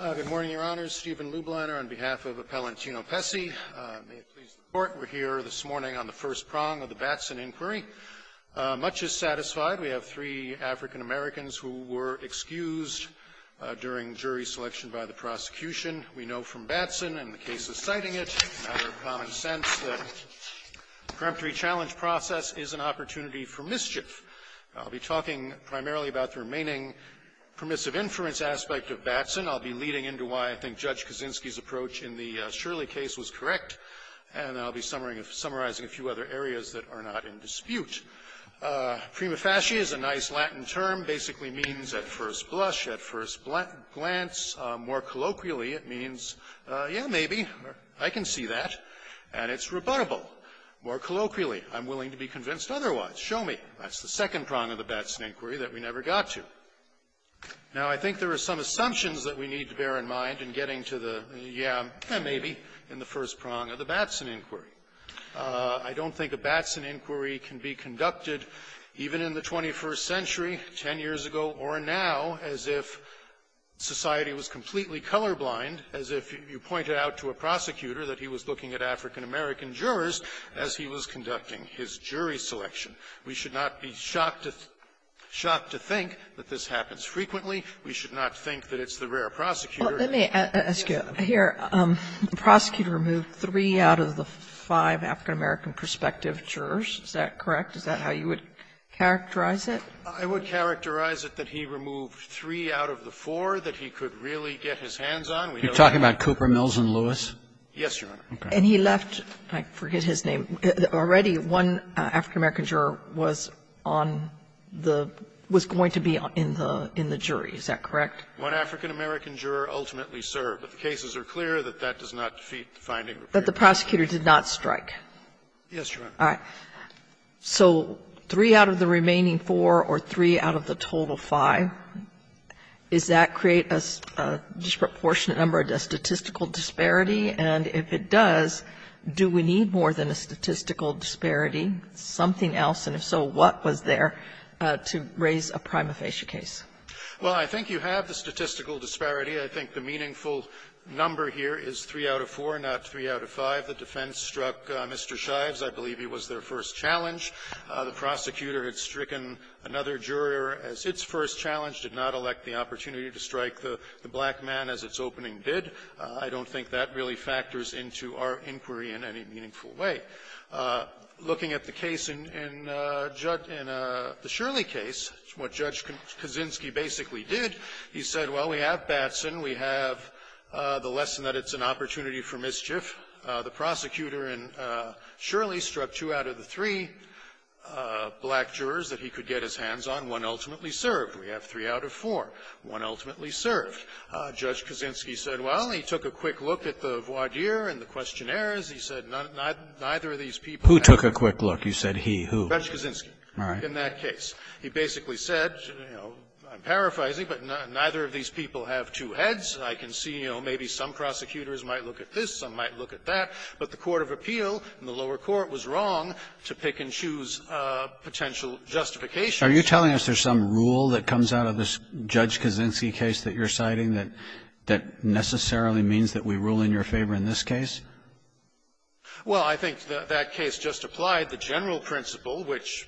Good morning, Your Honors. Stephen Lubliner on behalf of Appellant Tino Pese. May it please the Court, we're here this morning on the first prong of the Batson inquiry. Much is satisfied. We have three African-Americans who were excused during jury selection by the prosecution. We know from Batson and the cases citing it, out of common sense, that the preemptory challenge process is an opportunity for mischief. I'll be talking primarily about the remaining permissive inference aspect of Batson. I'll be leading into why I think Judge Kaczynski's approach in the Shirley case was correct. And I'll be summarizing a few other areas that are not in dispute. Prima facie is a nice Latin term, basically means at first blush, at first glance. More colloquially, it means, yeah, maybe, I can see that, and it's rebuttable. More colloquially, I'm willing to be convinced otherwise. Show me. That's the second prong of the Batson inquiry that we never got to. Now, I think there are some assumptions that we need to bear in mind in getting to the, yeah, maybe, in the first prong of the Batson inquiry. I don't think a Batson inquiry can be conducted, even in the 21st century, ten years ago or now, as if society was completely colorblind, as if you pointed out to a prosecutor that he was looking at African-American jurors as he was conducting his jury selection. We should not be shocked to think that this happens frequently. We should not think that it's the rare prosecutor. Sotomayor, the prosecutor removed three out of the five African-American prospective jurors, is that correct? Is that how you would characterize it? I would characterize it that he removed three out of the four that he could really get his hands on. You're talking about Cooper, Mills, and Lewis? Yes, Your Honor. And he left, I forget his name, already one African-American juror was on the, was going to be in the jury, is that correct? One African-American juror ultimately served. If the cases are clear, that that does not defeat the finding. That the prosecutor did not strike. Yes, Your Honor. All right. So three out of the remaining four or three out of the total five, does that create a disproportionate number of statistical disparity? And if it does, do we need more than a statistical disparity, something else? And if so, what was there to raise a prima facie case? Well, I think you have the statistical disparity. I think the meaningful number here is three out of four, not three out of five. The defense struck Mr. Shives. I believe he was their first challenge. The prosecutor had stricken another juror as its first challenge, did not elect the opportunity to strike the black man as its opening did. I don't think that really factors into our inquiry in any meaningful way. Looking at the case in the Shirley case, what Judge Kaczynski basically did, he said, well, we have Batson. We have the lesson that it's an opportunity for mischief. The prosecutor in Shirley struck two out of the three black jurors that he could get his hands on. One ultimately served. We have three out of four. One ultimately served. Judge Kaczynski said, well, he took a quick look at the voir dire and the questionnaires. He said neither of these people had two heads. Who took a quick look? You said he. Who? Judge Kaczynski. All right. In that case. He basically said, you know, I'm paraphrasing, but neither of these people have two heads. I can see, you know, maybe some prosecutors might look at this, some might look at that, but the court of appeal in the lower court was wrong to pick and choose potential justifications. Are you telling us there's some rule that comes out of this Judge Kaczynski case that you're citing that necessarily means that we rule in your favor in this case? Well, I think that that case just applied the general principle, which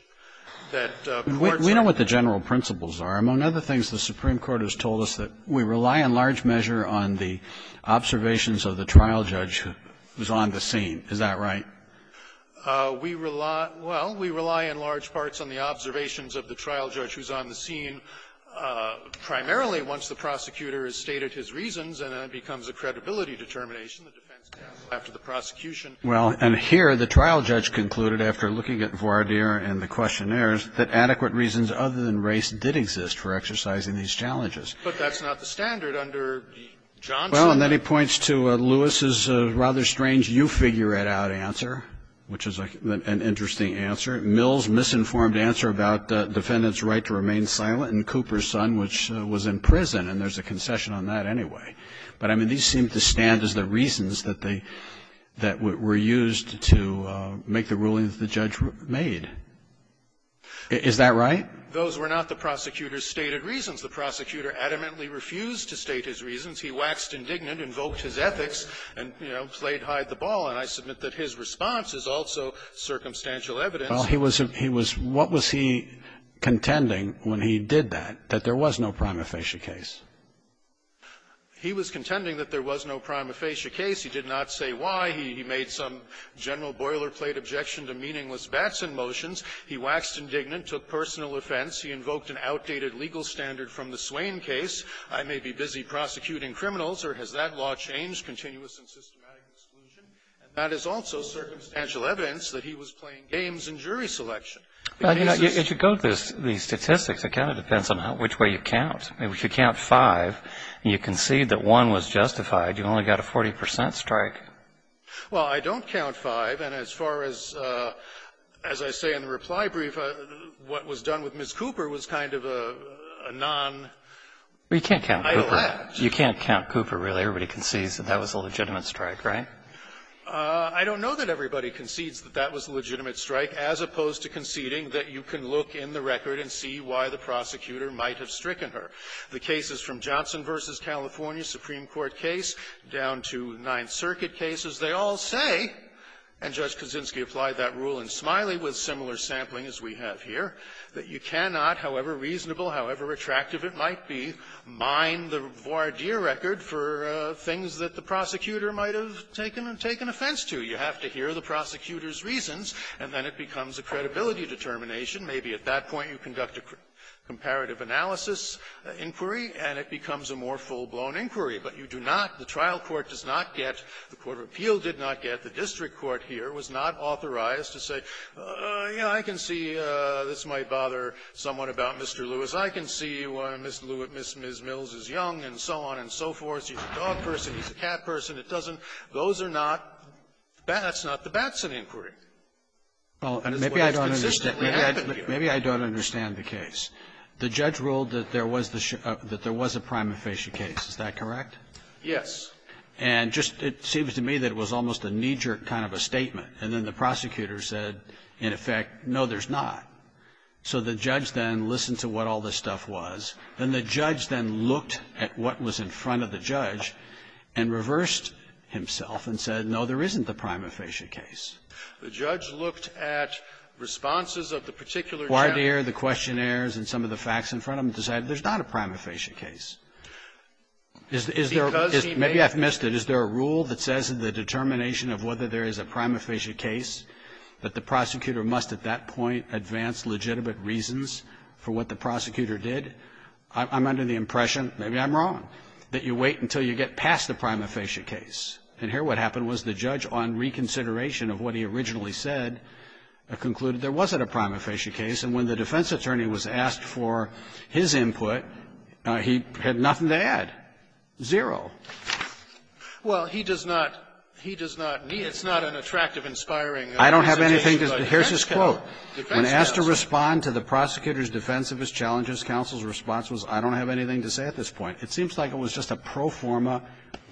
that courts are. We know what the general principles are. Among other things, the Supreme Court has told us that we rely in large measure on the observations of the trial judge who's on the scene. Is that right? We rely – well, we rely in large parts on the observations of the trial judge who's on the scene, primarily once the prosecutor has stated his reasons, and then it becomes a credibility determination, the defense counsel after the prosecution Well, and here the trial judge concluded, after looking at Voirdier and the questionnaires, that adequate reasons other than race did exist for exercising these challenges. But that's not the standard under Johnson. Well, and then he points to Lewis's rather strange you-figure-it-out answer, which is an interesting answer, Mills' misinformed answer about the defendant's right to remain silent, and Cooper's son, which was in prison, and there's a concession on that anyway. But, I mean, these seem to stand as the reasons that they – that were used to make the rulings the judge made. Is that right? Those were not the prosecutor's stated reasons. The prosecutor adamantly refused to state his reasons. He waxed indignant, invoked his ethics, and, you know, played hide-the-ball. And I submit that his response is also circumstantial evidence. Well, he was – he was – what was he contending when he did that, that there was no prima facie case? He was contending that there was no prima facie case. He did not say why. He made some general boilerplate objection to meaningless Batson motions. He waxed indignant, took personal offense. He invoked an outdated legal standard from the Swain case. I may be busy prosecuting criminals, or has that law changed, continuous and systematic exclusion? And that is also circumstantial evidence that he was playing games in jury selection. The case is – Well, you know, if you go to the statistics, it kind of depends on which way you count. If you count five, and you concede that one was justified, you only got a 40 percent strike. Well, I don't count five, and as far as – as I say in the reply brief, what was done with Ms. Cooper was kind of a non- Well, you can't count Cooper. You can't count Cooper, really. Everybody concedes that that was a legitimate strike, right? I don't know that everybody concedes that that was a legitimate strike, as opposed to conceding that you can look in the record and see why the prosecutor might have stricken her. The cases from Johnson v. California, Supreme Court case, down to Ninth Circuit cases, they all say, and Judge Kaczynski applied that rule in Smiley with similar sampling as we have here, that you cannot, however reasonable, however attractive it might be, mine the voir dire record for things that the prosecutor might have taken – taken offense to. You have to hear the prosecutor's reasons, and then it becomes a credibility determination. Maybe at that point you conduct a comparative analysis inquiry, and it becomes a more full-blown inquiry. But you do not, the trial court does not get, the court of appeal did not get, the district court here was not authorized to say, you know, I can see this might bother someone about Mr. Lewis. I can see why Ms. Lewis, Ms. Mills is young, and so on and so forth. She's a dog person, he's a cat person. It doesn't – those are not – that's not the Batson inquiry. And that's what has consistently happened here. Maybe I don't understand the case. The judge ruled that there was the – that there was a prima facie case. Is that correct? Yes. And just it seems to me that it was almost a knee-jerk kind of a statement. And then the prosecutor said, in effect, no, there's not. So the judge then listened to what all this stuff was, and the judge then looked at what was in front of the judge and reversed himself and said, no, there isn't the prima facie case. The judge looked at responses of the particular gentleman. The questionnaires and some of the facts in front of him and decided there's not a prima facie case. Is there a – maybe I've missed it. Is there a rule that says in the determination of whether there is a prima facie case that the prosecutor must at that point advance legitimate reasons for what the prosecutor did? I'm under the impression – maybe I'm wrong – that you wait until you get past the prima facie case. And here what happened was the judge, on reconsideration of what he originally said, concluded there wasn't a prima facie case. And when the defense attorney was asked for his input, he had nothing to add, zero. Well, he does not – he does not need – it's not an attractive, inspiring presentation. I don't have anything to – here's his quote. When asked to respond to the prosecutor's defensivist challenges, counsel's response was, I don't have anything to say at this point. It seems like it was just a pro forma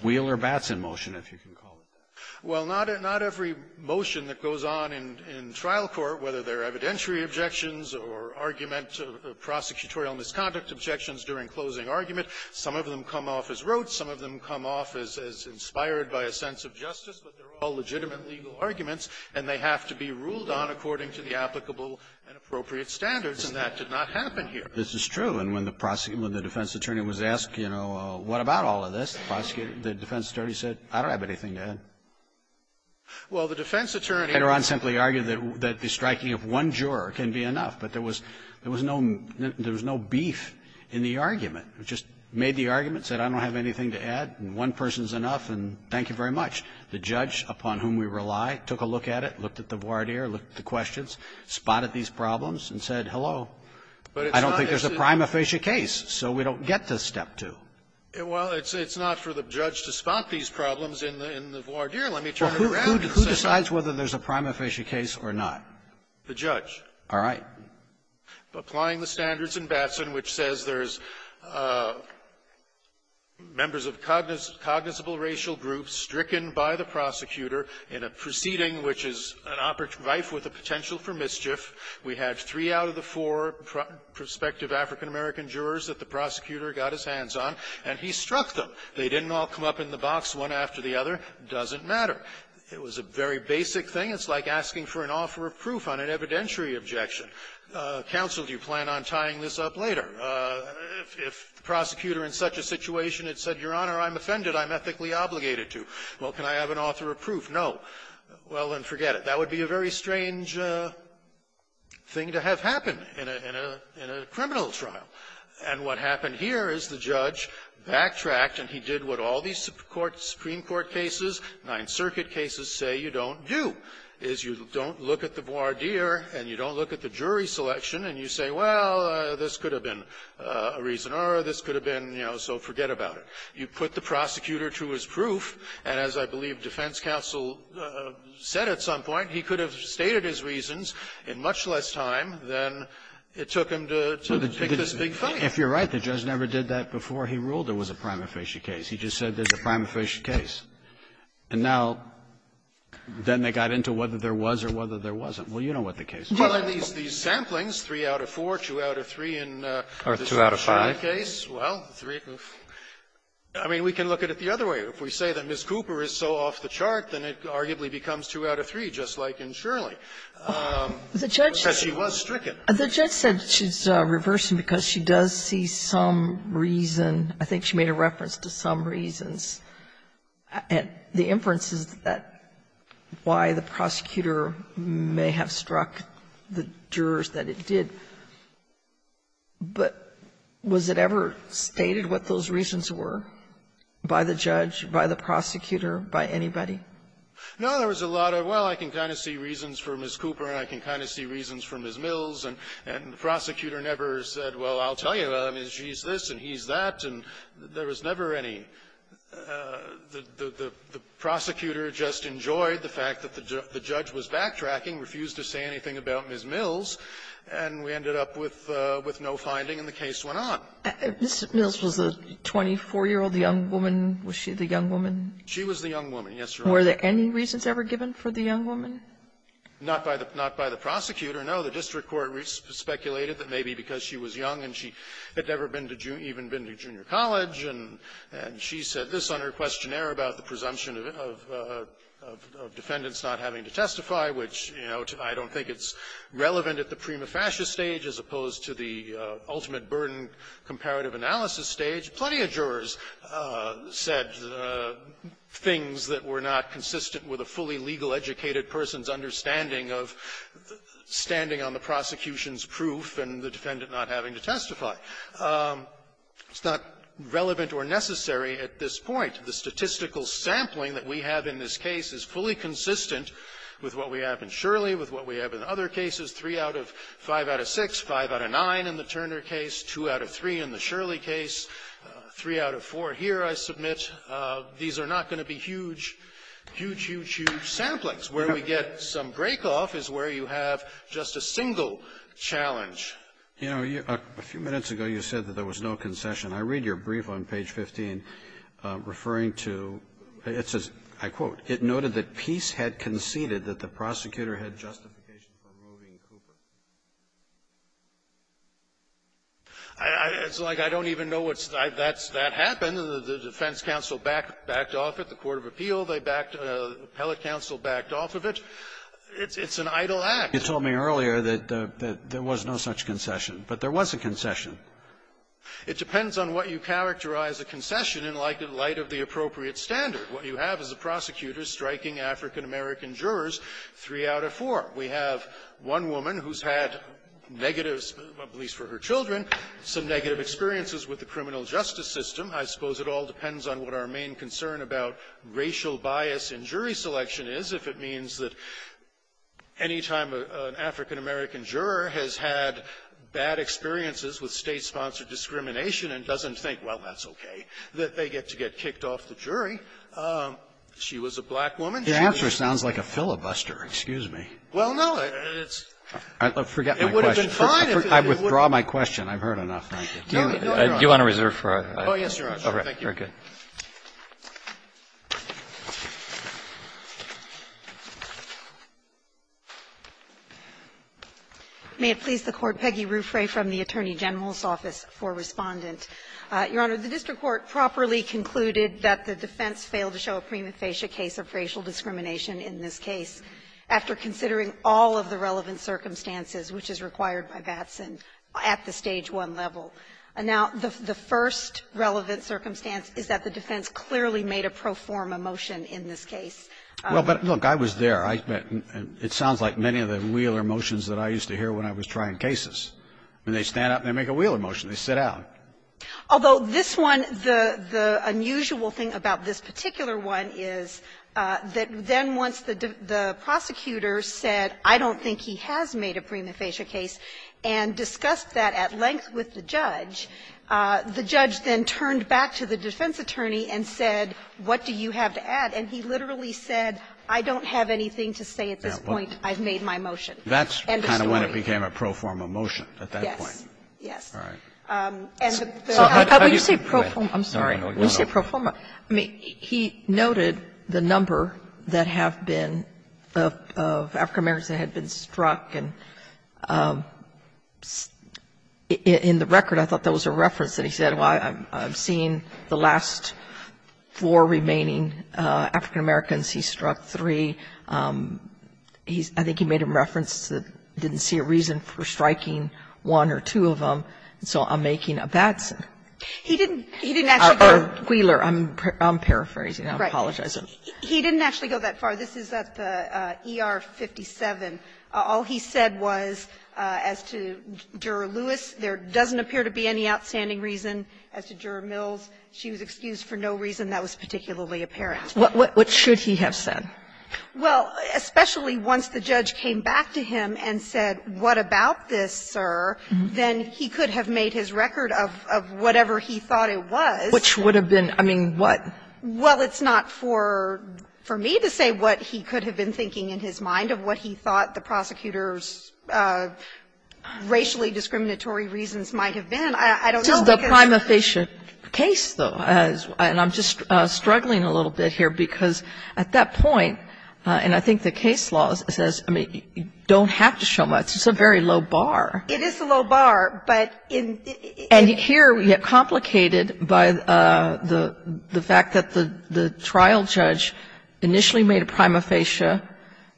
wheeler-batson motion, if you can call it that. Well, not every motion that goes on in trial court, whether they're evidentiary objections or argument of prosecutorial misconduct objections during closing argument, some of them come off as rote, some of them come off as inspired by a sense of justice, but they're all legitimate legal arguments, and they have to be ruled on according to the applicable and appropriate standards, and that did not happen here. This is true. And when the defense attorney was asked, you know, what about all of this, the defense attorney said, I don't have anything to add. Well, the defense attorney – Later on simply argued that the striking of one juror can be enough, but there was no – there was no beef in the argument. It just made the argument, said I don't have anything to add, and one person's enough, and thank you very much. The judge upon whom we rely took a look at it, looked at the voir dire, looked at the questions, spotted these problems, and said, hello, I don't think there's a prima facie case, so we don't get to Step 2. Well, it's not for the judge to spot these problems in the voir dire. Let me turn it around and say something. Well, who decides whether there's a prima facie case or not? The judge. All right. Applying the standards in Batson, which says there's members of cognizable racial groups stricken by the prosecutor in a proceeding which is an operative rife with a potential for mischief. We had three out of the four prospective African-American jurors that the prosecutor got his hands on, and he struck them. They didn't all come up in the box one after the other. Doesn't matter. It was a very basic thing. It's like asking for an offer of proof on an evidentiary objection. Counsel, do you plan on tying this up later? If the prosecutor in such a situation had said, Your Honor, I'm offended. I'm ethically obligated to. Well, can I have an offer of proof? No. Well, then forget it. That would be a very strange thing to have happen in a criminal trial. And what happened here is the judge backtracked, and he did what all these Supreme Court cases, Ninth Circuit cases say you don't do, is you don't look at the voir jury selection and you say, well, this could have been a reason or this could have been, you know, so forget about it. You put the prosecutor to his proof, and as I believe defense counsel said at some point, he could have stated his reasons in much less time than it took him to pick this big fight. If you're right, the judge never did that before he ruled there was a prima facie case. He just said there's a prima facie case. And now, then they got into whether there was or whether there wasn't. Well, you know what the case was. Well, in these samplings, 3 out of 4, 2 out of 3 in the Shirley case, well, 3 of the 4. I mean, we can look at it the other way. If we say that Ms. Cooper is so off the chart, then it arguably becomes 2 out of 3, just like in Shirley. The judge said she was stricken. The judge said she's reversing because she does see some reason. I think she made a reference to some reasons. And the inference is that why the prosecutor may have struck the jurors that it did. But was it ever stated what those reasons were by the judge, by the prosecutor, by anybody? No, there was a lot of, well, I can kind of see reasons for Ms. Cooper, and I can kind of see reasons for Ms. Mills. And the prosecutor never said, well, I'll tell you, she's this and he's that. And there was never any the prosecutor just enjoyed the fact that the judge was backtracking, refused to say anything about Ms. Mills, and we ended up with no finding, and the case went on. Ms. Mills was a 24-year-old young woman. Was she the young woman? She was the young woman, yes, Your Honor. Were there any reasons ever given for the young woman? Not by the prosecutor, no. The district court speculated that maybe because she was young and she had never been to even been to junior college, and she said this on her questionnaire about the presumption of defendants not having to testify, which, you know, I don't think it's relevant at the prima facie stage, as opposed to the ultimate burden comparative analysis stage. Plenty of jurors said things that were not consistent with a fully legal-educated person's understanding of standing on the prosecution's proof and the defendant not having to testify. It's not relevant or necessary at this point. The statistical sampling that we have in this case is fully consistent with what we have in Shirley, with what we have in other cases, three out of five out of six, five out of nine in the Turner case, two out of three in the Shirley case, three out of four here, I submit. These are not going to be huge, huge, huge, huge samplings. Where we get some break-off is where you have just a single challenge. You know, a few minutes ago, you said that there was no concession. I read your brief on page 15, referring to, it says, I quote, it noted that Peace had conceded that the prosecutor had justification for removing Cooper. It's like I don't even know what's the idea. That happened, and the defense counsel backed off of it, the court of appeal, the appellate counsel backed off of it. It's an idle act. You told me earlier that there was no such concession. But there was a concession. It depends on what you characterize a concession in light of the appropriate standard. What you have is a prosecutor striking African-American jurors, three out of four. We have one woman who's had negative, at least for her children, some negative experiences with the criminal justice system. I suppose it all depends on what our main concern about racial bias in jury selection is, if it means that any time an African-American juror has had bad experiences with State-sponsored discrimination and doesn't think, well, that's okay, that they get to get kicked off the jury, she was a black woman, she was an African-American. Kagan. Roberts. Well, no, it's been fine if it would have been fine if it would have been fine if it would have been fine. May it please the Court, Peggy Ruffray from the Attorney General's office for Respondent. Your Honor, the district court properly concluded that the defense failed to show a prima facie case of racial discrimination in this case after considering all of the relevant circumstances, which is required by Batson at the Stage 1 level. Now, the first relevant circumstance is that the defense clearly made a pro forma motion in this case. Well, but look, I was there. It sounds like many of the Wheeler motions that I used to hear when I was trying cases. I mean, they stand up and they make a Wheeler motion. They sit down. Although this one, the unusual thing about this particular one is that then once the prosecutor said, I don't think he has made a prima facie case, and discussed that at length with the judge, the judge then turned back to the defense attorney and said, what do you have to add? And he literally said, I don't have anything to say at this point. I've made my motion. And the story. That's kind of when it became a pro forma motion, at that point. Yes. Yes. All right. And the fact that you could commit to a criminal case is not a criminal case. I'm sorry. When you say pro forma, I mean, he noted the number that have been of African Americans that had been struck, and in the record I thought that was a reference that he said, well, I've seen the last four remaining African Americans. He struck three. He's – I think he made a reference that didn't see a reason for striking one or two of them, so I'm making a bad sentence. He didn't actually go that far. Wheeler. I'm paraphrasing. I apologize. He didn't actually go that far. This is at the ER-57. All he said was, as to Juror Lewis, there doesn't appear to be any outstanding reason. As to Juror Mills, she was excused for no reason that was particularly apparent. What should he have said? Well, especially once the judge came back to him and said, what about this, sir, then he could have made his record of whatever he thought it was. Which would have been, I mean, what? Well, it's not for me to say what he could have been thinking in his mind of what he thought the prosecutor's racially discriminatory reasons might have been. I don't know because the prima facie case, though, and I'm just struggling a little bit here, because at that point, and I think the case law says, I mean, you don't have to show much. It's a very low bar. It is a low bar, but in the end, it's complicated by the fact that the trial judge initially made a prima facie.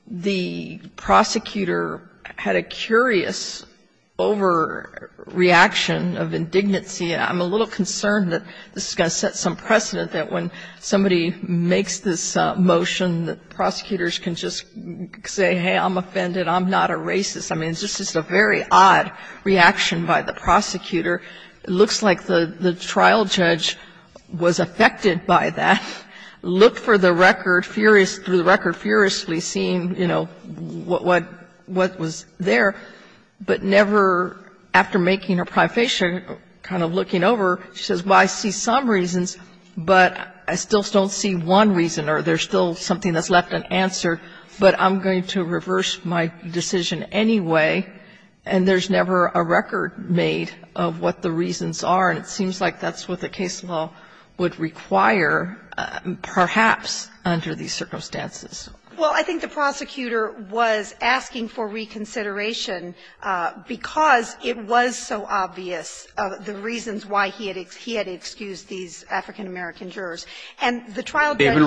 The prosecutor had a curious overreaction of indignancy. I'm a little concerned that this is going to set some precedent that when somebody makes this motion, the prosecutors can just say, hey, I'm offended, I'm not a racist. I mean, this is a very odd reaction by the prosecutor. It looks like the trial judge was affected by that. Looked for the record, through the record furiously, seeing, you know, what was there, but never, after making a prima facie, kind of looking over, she says, well, I see some reasons, but I still don't see one reason, or there's still something that's left unanswered, but I'm going to reverse my decision anyway, and there's never a record made of what the reasons are. And it seems like that's what the case law would require, perhaps, under these circumstances. Well, I think the prosecutor was asking for reconsideration because it was so obvious the reasons why he had excused these African-American jurors. And the trial judge said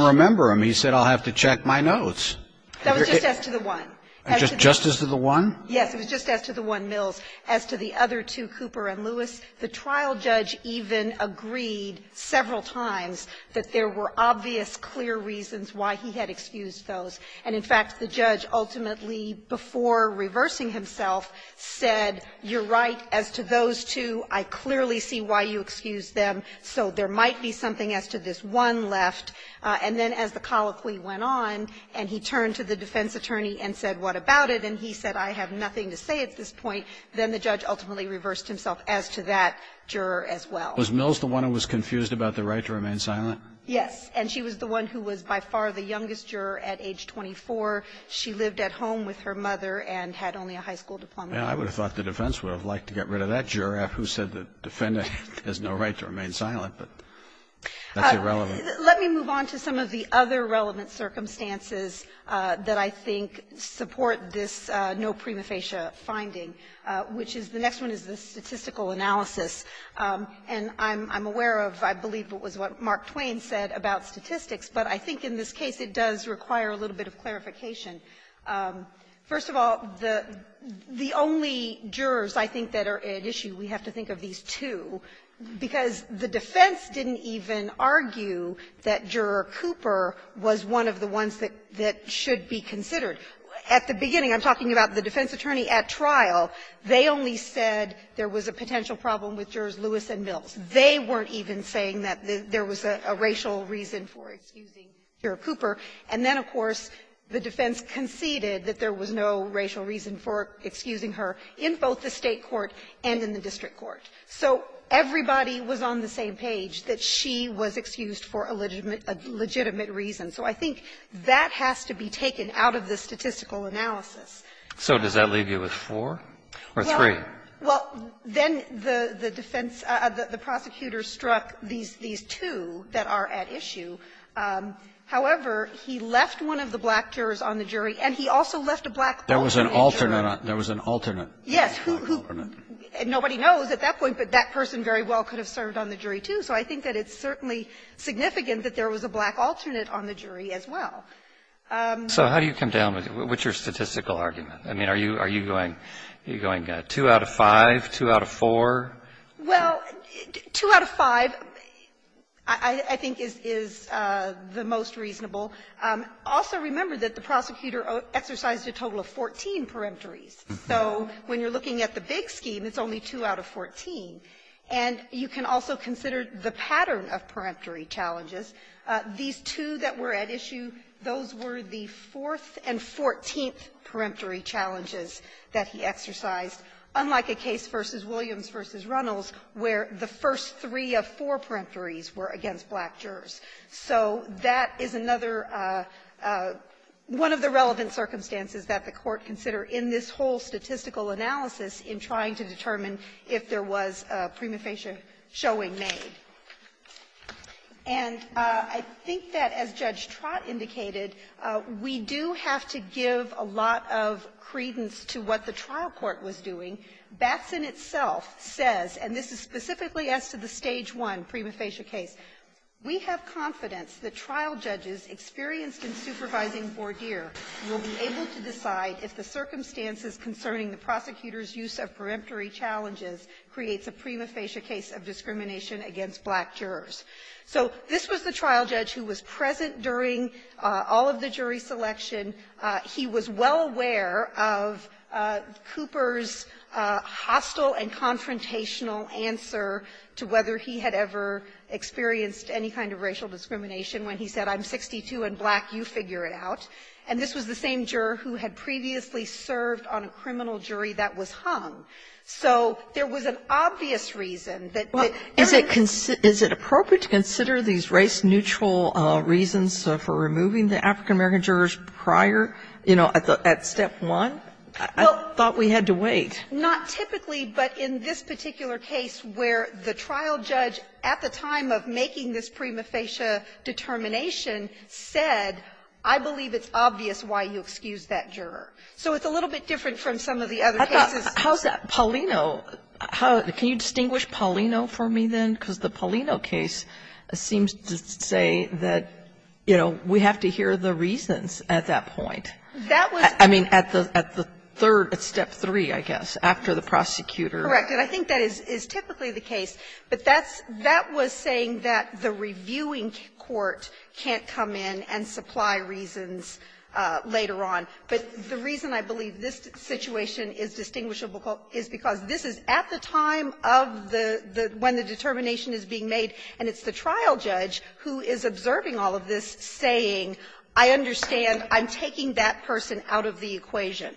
to the one, yes, it was just as to the one Mills, as to the And the trial judge even agreed several times that there were obvious, clear reasons why he had excused those. And, in fact, the judge ultimately, before reversing himself, said, you're right as to those two, I clearly see why you excused them, so there might be something as to this one left. And then as the colloquy went on, and he turned to the defense attorney and said, what about it, and he said, I have nothing to say at this point, then the judge ultimately reversed himself as to that juror as well. Was Mills the one who was confused about the right to remain silent? Yes. And she was the one who was by far the youngest juror at age 24. She lived at home with her mother and had only a high school diploma. I would have thought the defense would have liked to get rid of that juror who said the defendant has no right to remain silent, but that's irrelevant. Let me move on to some of the other relevant circumstances that I think support this no prima facie finding, which is the next one is the statistical analysis. And I'm aware of, I believe it was what Mark Twain said about statistics, but I think in this case it does require a little bit of clarification. First of all, the only jurors, I think, that are at issue, we have to think of these two, because the defense didn't even argue that Juror Cooper was one of the ones that should be considered. At the beginning, I'm talking about the defense attorney at trial. They only said there was a potential problem with jurors Lewis and Mills. They weren't even saying that there was a racial reason for excusing Juror Cooper. And then, of course, the defense conceded that there was no racial reason for excusing her in both the State court and in the district court. So everybody was on the same page that she was excused for a legitimate reason. So I think that has to be taken out of the statistical analysis. So does that leave you with four or three? Well, then the defense, the prosecutor struck these two that are at issue. However, he left one of the black jurors on the jury, and he also left a black lawmaker on the jury. There was an alternate. Yes. Nobody knows at that point, but that person very well could have served on the jury too. So I think that it's certainly significant that there was a black alternate on the jury as well. So how do you come down with your statistical argument? I mean, are you going two out of five, two out of four? Well, two out of five, I think, is the most reasonable. Also remember that the prosecutor exercised a total of 14 peremptories. So when you're looking at the big scheme, it's only two out of 14. And you can also consider the pattern of peremptory challenges. These two that were at issue, those were the fourth and fourteenth peremptory challenges that he exercised, unlike a case versus Williams v. Runnels, where the first three of four peremptories were against black jurors. So that is another one of the relevant circumstances that the Court considered in this whole statistical analysis in trying to determine if there was a prima facie showing made. And I think that, as Judge Trott indicated, we do have to give a lot of credence to what the trial court was doing. Batson itself says, and this is specifically as to the Stage 1 prima facie case, we have confidence that trial judges experienced in supervising Vordeer will be able to decide if the circumstances concerning the prosecutor's use of peremptory challenges creates a prima facie case of discrimination against black jurors. So this was the trial judge who was present during all of the jury selection. He was well aware of Cooper's hostile and confrontational answer to whether he had ever experienced any kind of racial discrimination when he said, I'm 62 and black, you figure it out. And this was the same juror who had previously served on a criminal jury that was hung. So there was an obvious reason that there is no reason to consider these racial neutral reasons for removing the African-American jurors prior, you know, at Step 1. I thought we had to wait. Not typically, but in this particular case where the trial judge, at the time of making this prima facie determination, said, I believe it's obvious why you excused that juror. So it's a little bit different from some of the other cases. Sotomayor, how's that? Paulino, how can you distinguish Paulino for me, then? Because the Paulino case seems to say that, you know, we have to hear the reasons at that point. I mean, at the third, at Step 3, I guess, after the prosecutor. Correct. And I think that is typically the case. But that's — that was saying that the reviewing court can't come in and supply reasons later on. But the reason I believe this situation is distinguishable is because this is at the time of the — when the determination is being made, and it's the trial judge who is observing all of this saying, I understand, I'm taking that person out of the equation.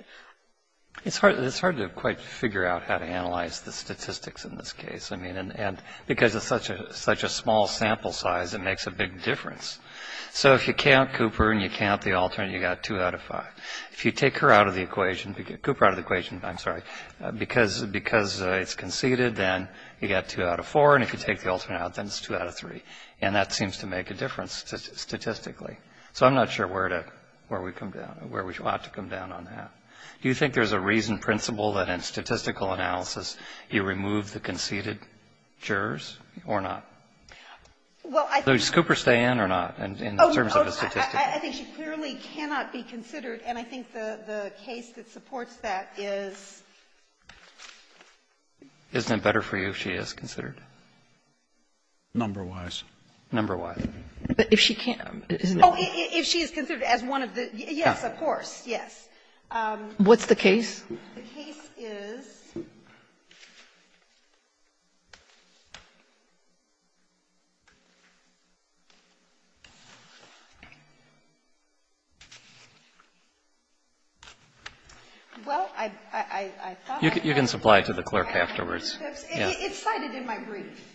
It's hard to quite figure out how to analyze the statistics in this case. I mean, and because it's such a small sample size, it makes a big difference. So if you count Cooper and you count the alternate, you got 2 out of 5. If you take her out of the equation — Cooper out of the equation, I'm sorry, because it's conceded, then you got 2 out of 4. And if you take the alternate out, then it's 2 out of 3. And that seems to make a difference statistically. So I'm not sure where to — where we come down — where we ought to come down on that. Do you think there's a reasoned principle that in statistical analysis you remove the conceded jurors, or not? So does Cooper stay in or not, in terms of the statistics? I think she clearly cannot be considered, and I think the case that supports that is — Isn't it better for you if she is considered? Number-wise. Number-wise. But if she can't — Oh, if she is considered as one of the — yes, of course, yes. What's the case? The case is — Well, I thought I — You can supply it to the clerk afterwards. It's cited in my brief.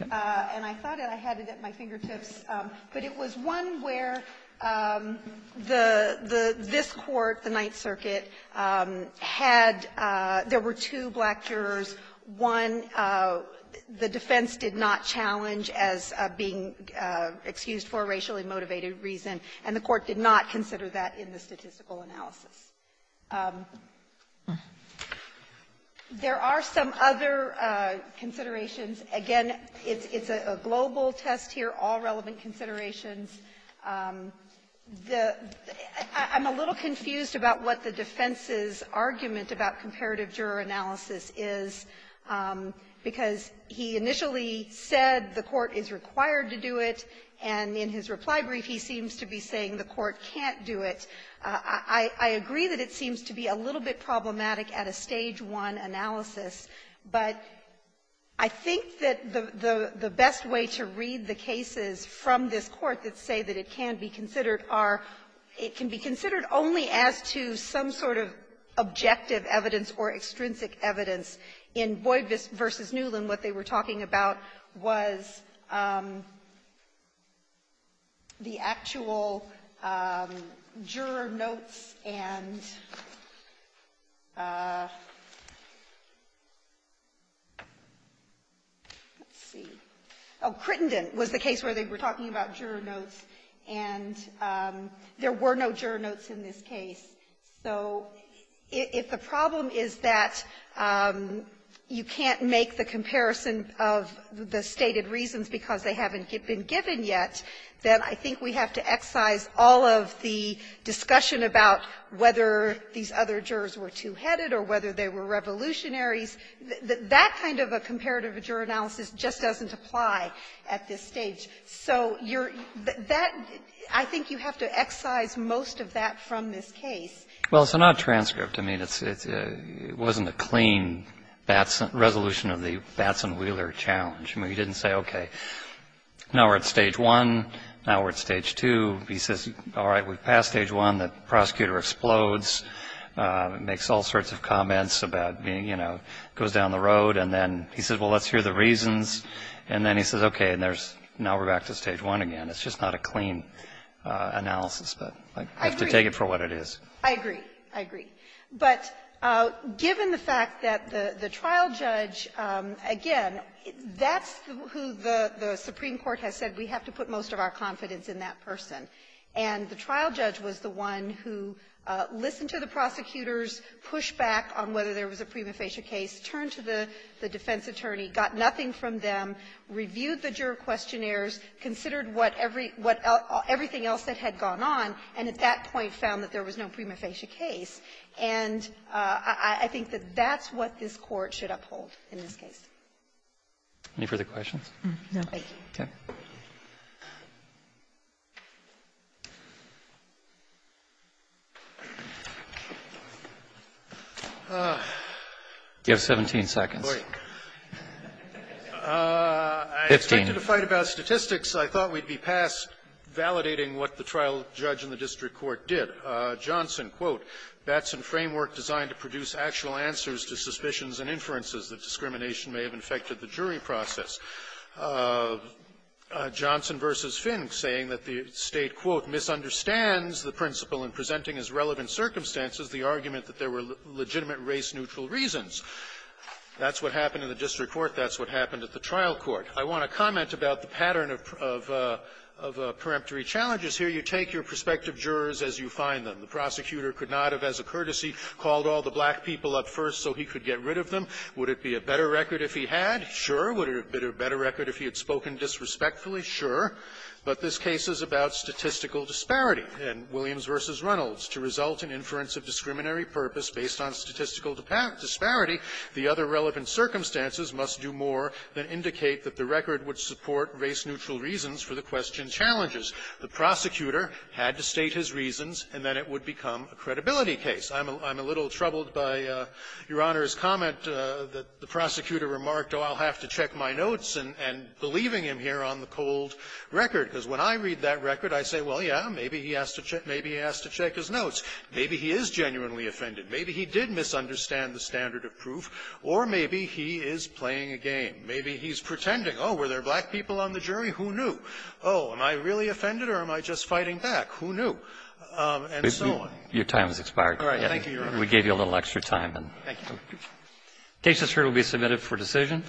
And I thought I had it at my fingertips. But it was one where the — this Court, the Ninth Circuit, had — there were two black jurors. One, the defense did not challenge as being excused for a racially motivated reason, and the Court did not consider that in the statistical analysis. There are some other considerations. Again, it's a global test here, all relevant considerations. The — I'm a little confused about what the defense's argument about comparative juror analysis is, because he initially said the Court is required to do it, and in his reply brief he seems to be saying the Court can't do it. I agree that it seems to be a little bit problematic at a Stage I analysis, but I think that the best way to read the cases from this Court that say that it can be considered are — it can be considered only as to some sort of objective evidence or extrinsic evidence. In Boyd v. Newland, what they were talking about was the actual juror notes and let's see — oh, Crittenden was the case where they were talking about juror notes, and there were no juror notes in this case. So if the problem is that you can't make the comparison of the stated reasons because they haven't been given yet, then I think we have to excise all of the discussion about whether these other jurors were two-headed or whether they were revolutionaries. That kind of a comparative juror analysis just doesn't apply at this stage. So you're — that — I think you have to excise most of that from this case. Well, it's not a transcript. I mean, it's — it wasn't a clean Batson — resolution of the Batson-Wheeler challenge. I mean, he didn't say, okay, now we're at Stage I, now we're at Stage II. He says, all right, we've passed Stage I, the prosecutor explodes, makes all sorts of comments about being, you know, goes down the road, and then he says, well, let's hear the reasons. And then he says, okay, and there's — now we're back to Stage I again. It's just not a clean analysis. But I have to take it for what it is. I agree. I agree. But given the fact that the trial judge, again, that's who the Supreme Court has said we have to put most of our confidence in that person. And the trial judge was the one who listened to the prosecutors, pushed back on whether there was a prima facie case, turned to the defense attorney, got nothing from them, reviewed the juror questionnaires, considered what every — what everything else that had gone on, and at that point found that there was no prima facie case. And I think that that's what this Court should uphold in this case. Any further questions? No. Thank you. Okay. You have 17 seconds. 15. I expected a fight about statistics. I thought we'd be past validating what the trial judge in the district court did. Johnson, quote, That's a framework designed to produce actual answers to suspicions and inferences that discrimination may have infected the jury process. Johnson v. Fink, saying that the State, quote, That's what happened in the district court. That's what happened at the trial court. I want to comment about the pattern of — of — of preemptory challenges here. You take your prospective jurors as you find them. The prosecutor could not have, as a courtesy, called all the black people up first so he could get rid of them. Would it be a better record if he had? Sure. Would it have been a better record if he had spoken disrespectfully? Sure. But this case is about statistical disparity. In Williams v. Reynolds, to result in inference of discriminatory purpose based on statistical disparity, the other relevant circumstances must do more than indicate that the record would support race-neutral reasons for the question challenges. The prosecutor had to state his reasons, and then it would become a credibility case. I'm a little troubled by Your Honor's comment that the prosecutor remarked, oh, I'll have to check my notes, and — and believing him here on the cold record. Because when I read that record, I say, well, yeah, maybe he has to check — maybe he has to check his notes. Maybe he is genuinely offended. Maybe he did misunderstand the standard of proof. Or maybe he is playing a game. Maybe he's pretending. Oh, were there black people on the jury? Who knew? Oh, am I really offended, or am I just fighting back? Who knew? And so on. Your time has expired. All right. Thank you, Your Honor. We gave you a little extra time. Thank you. The case that's heard will be submitted for decision.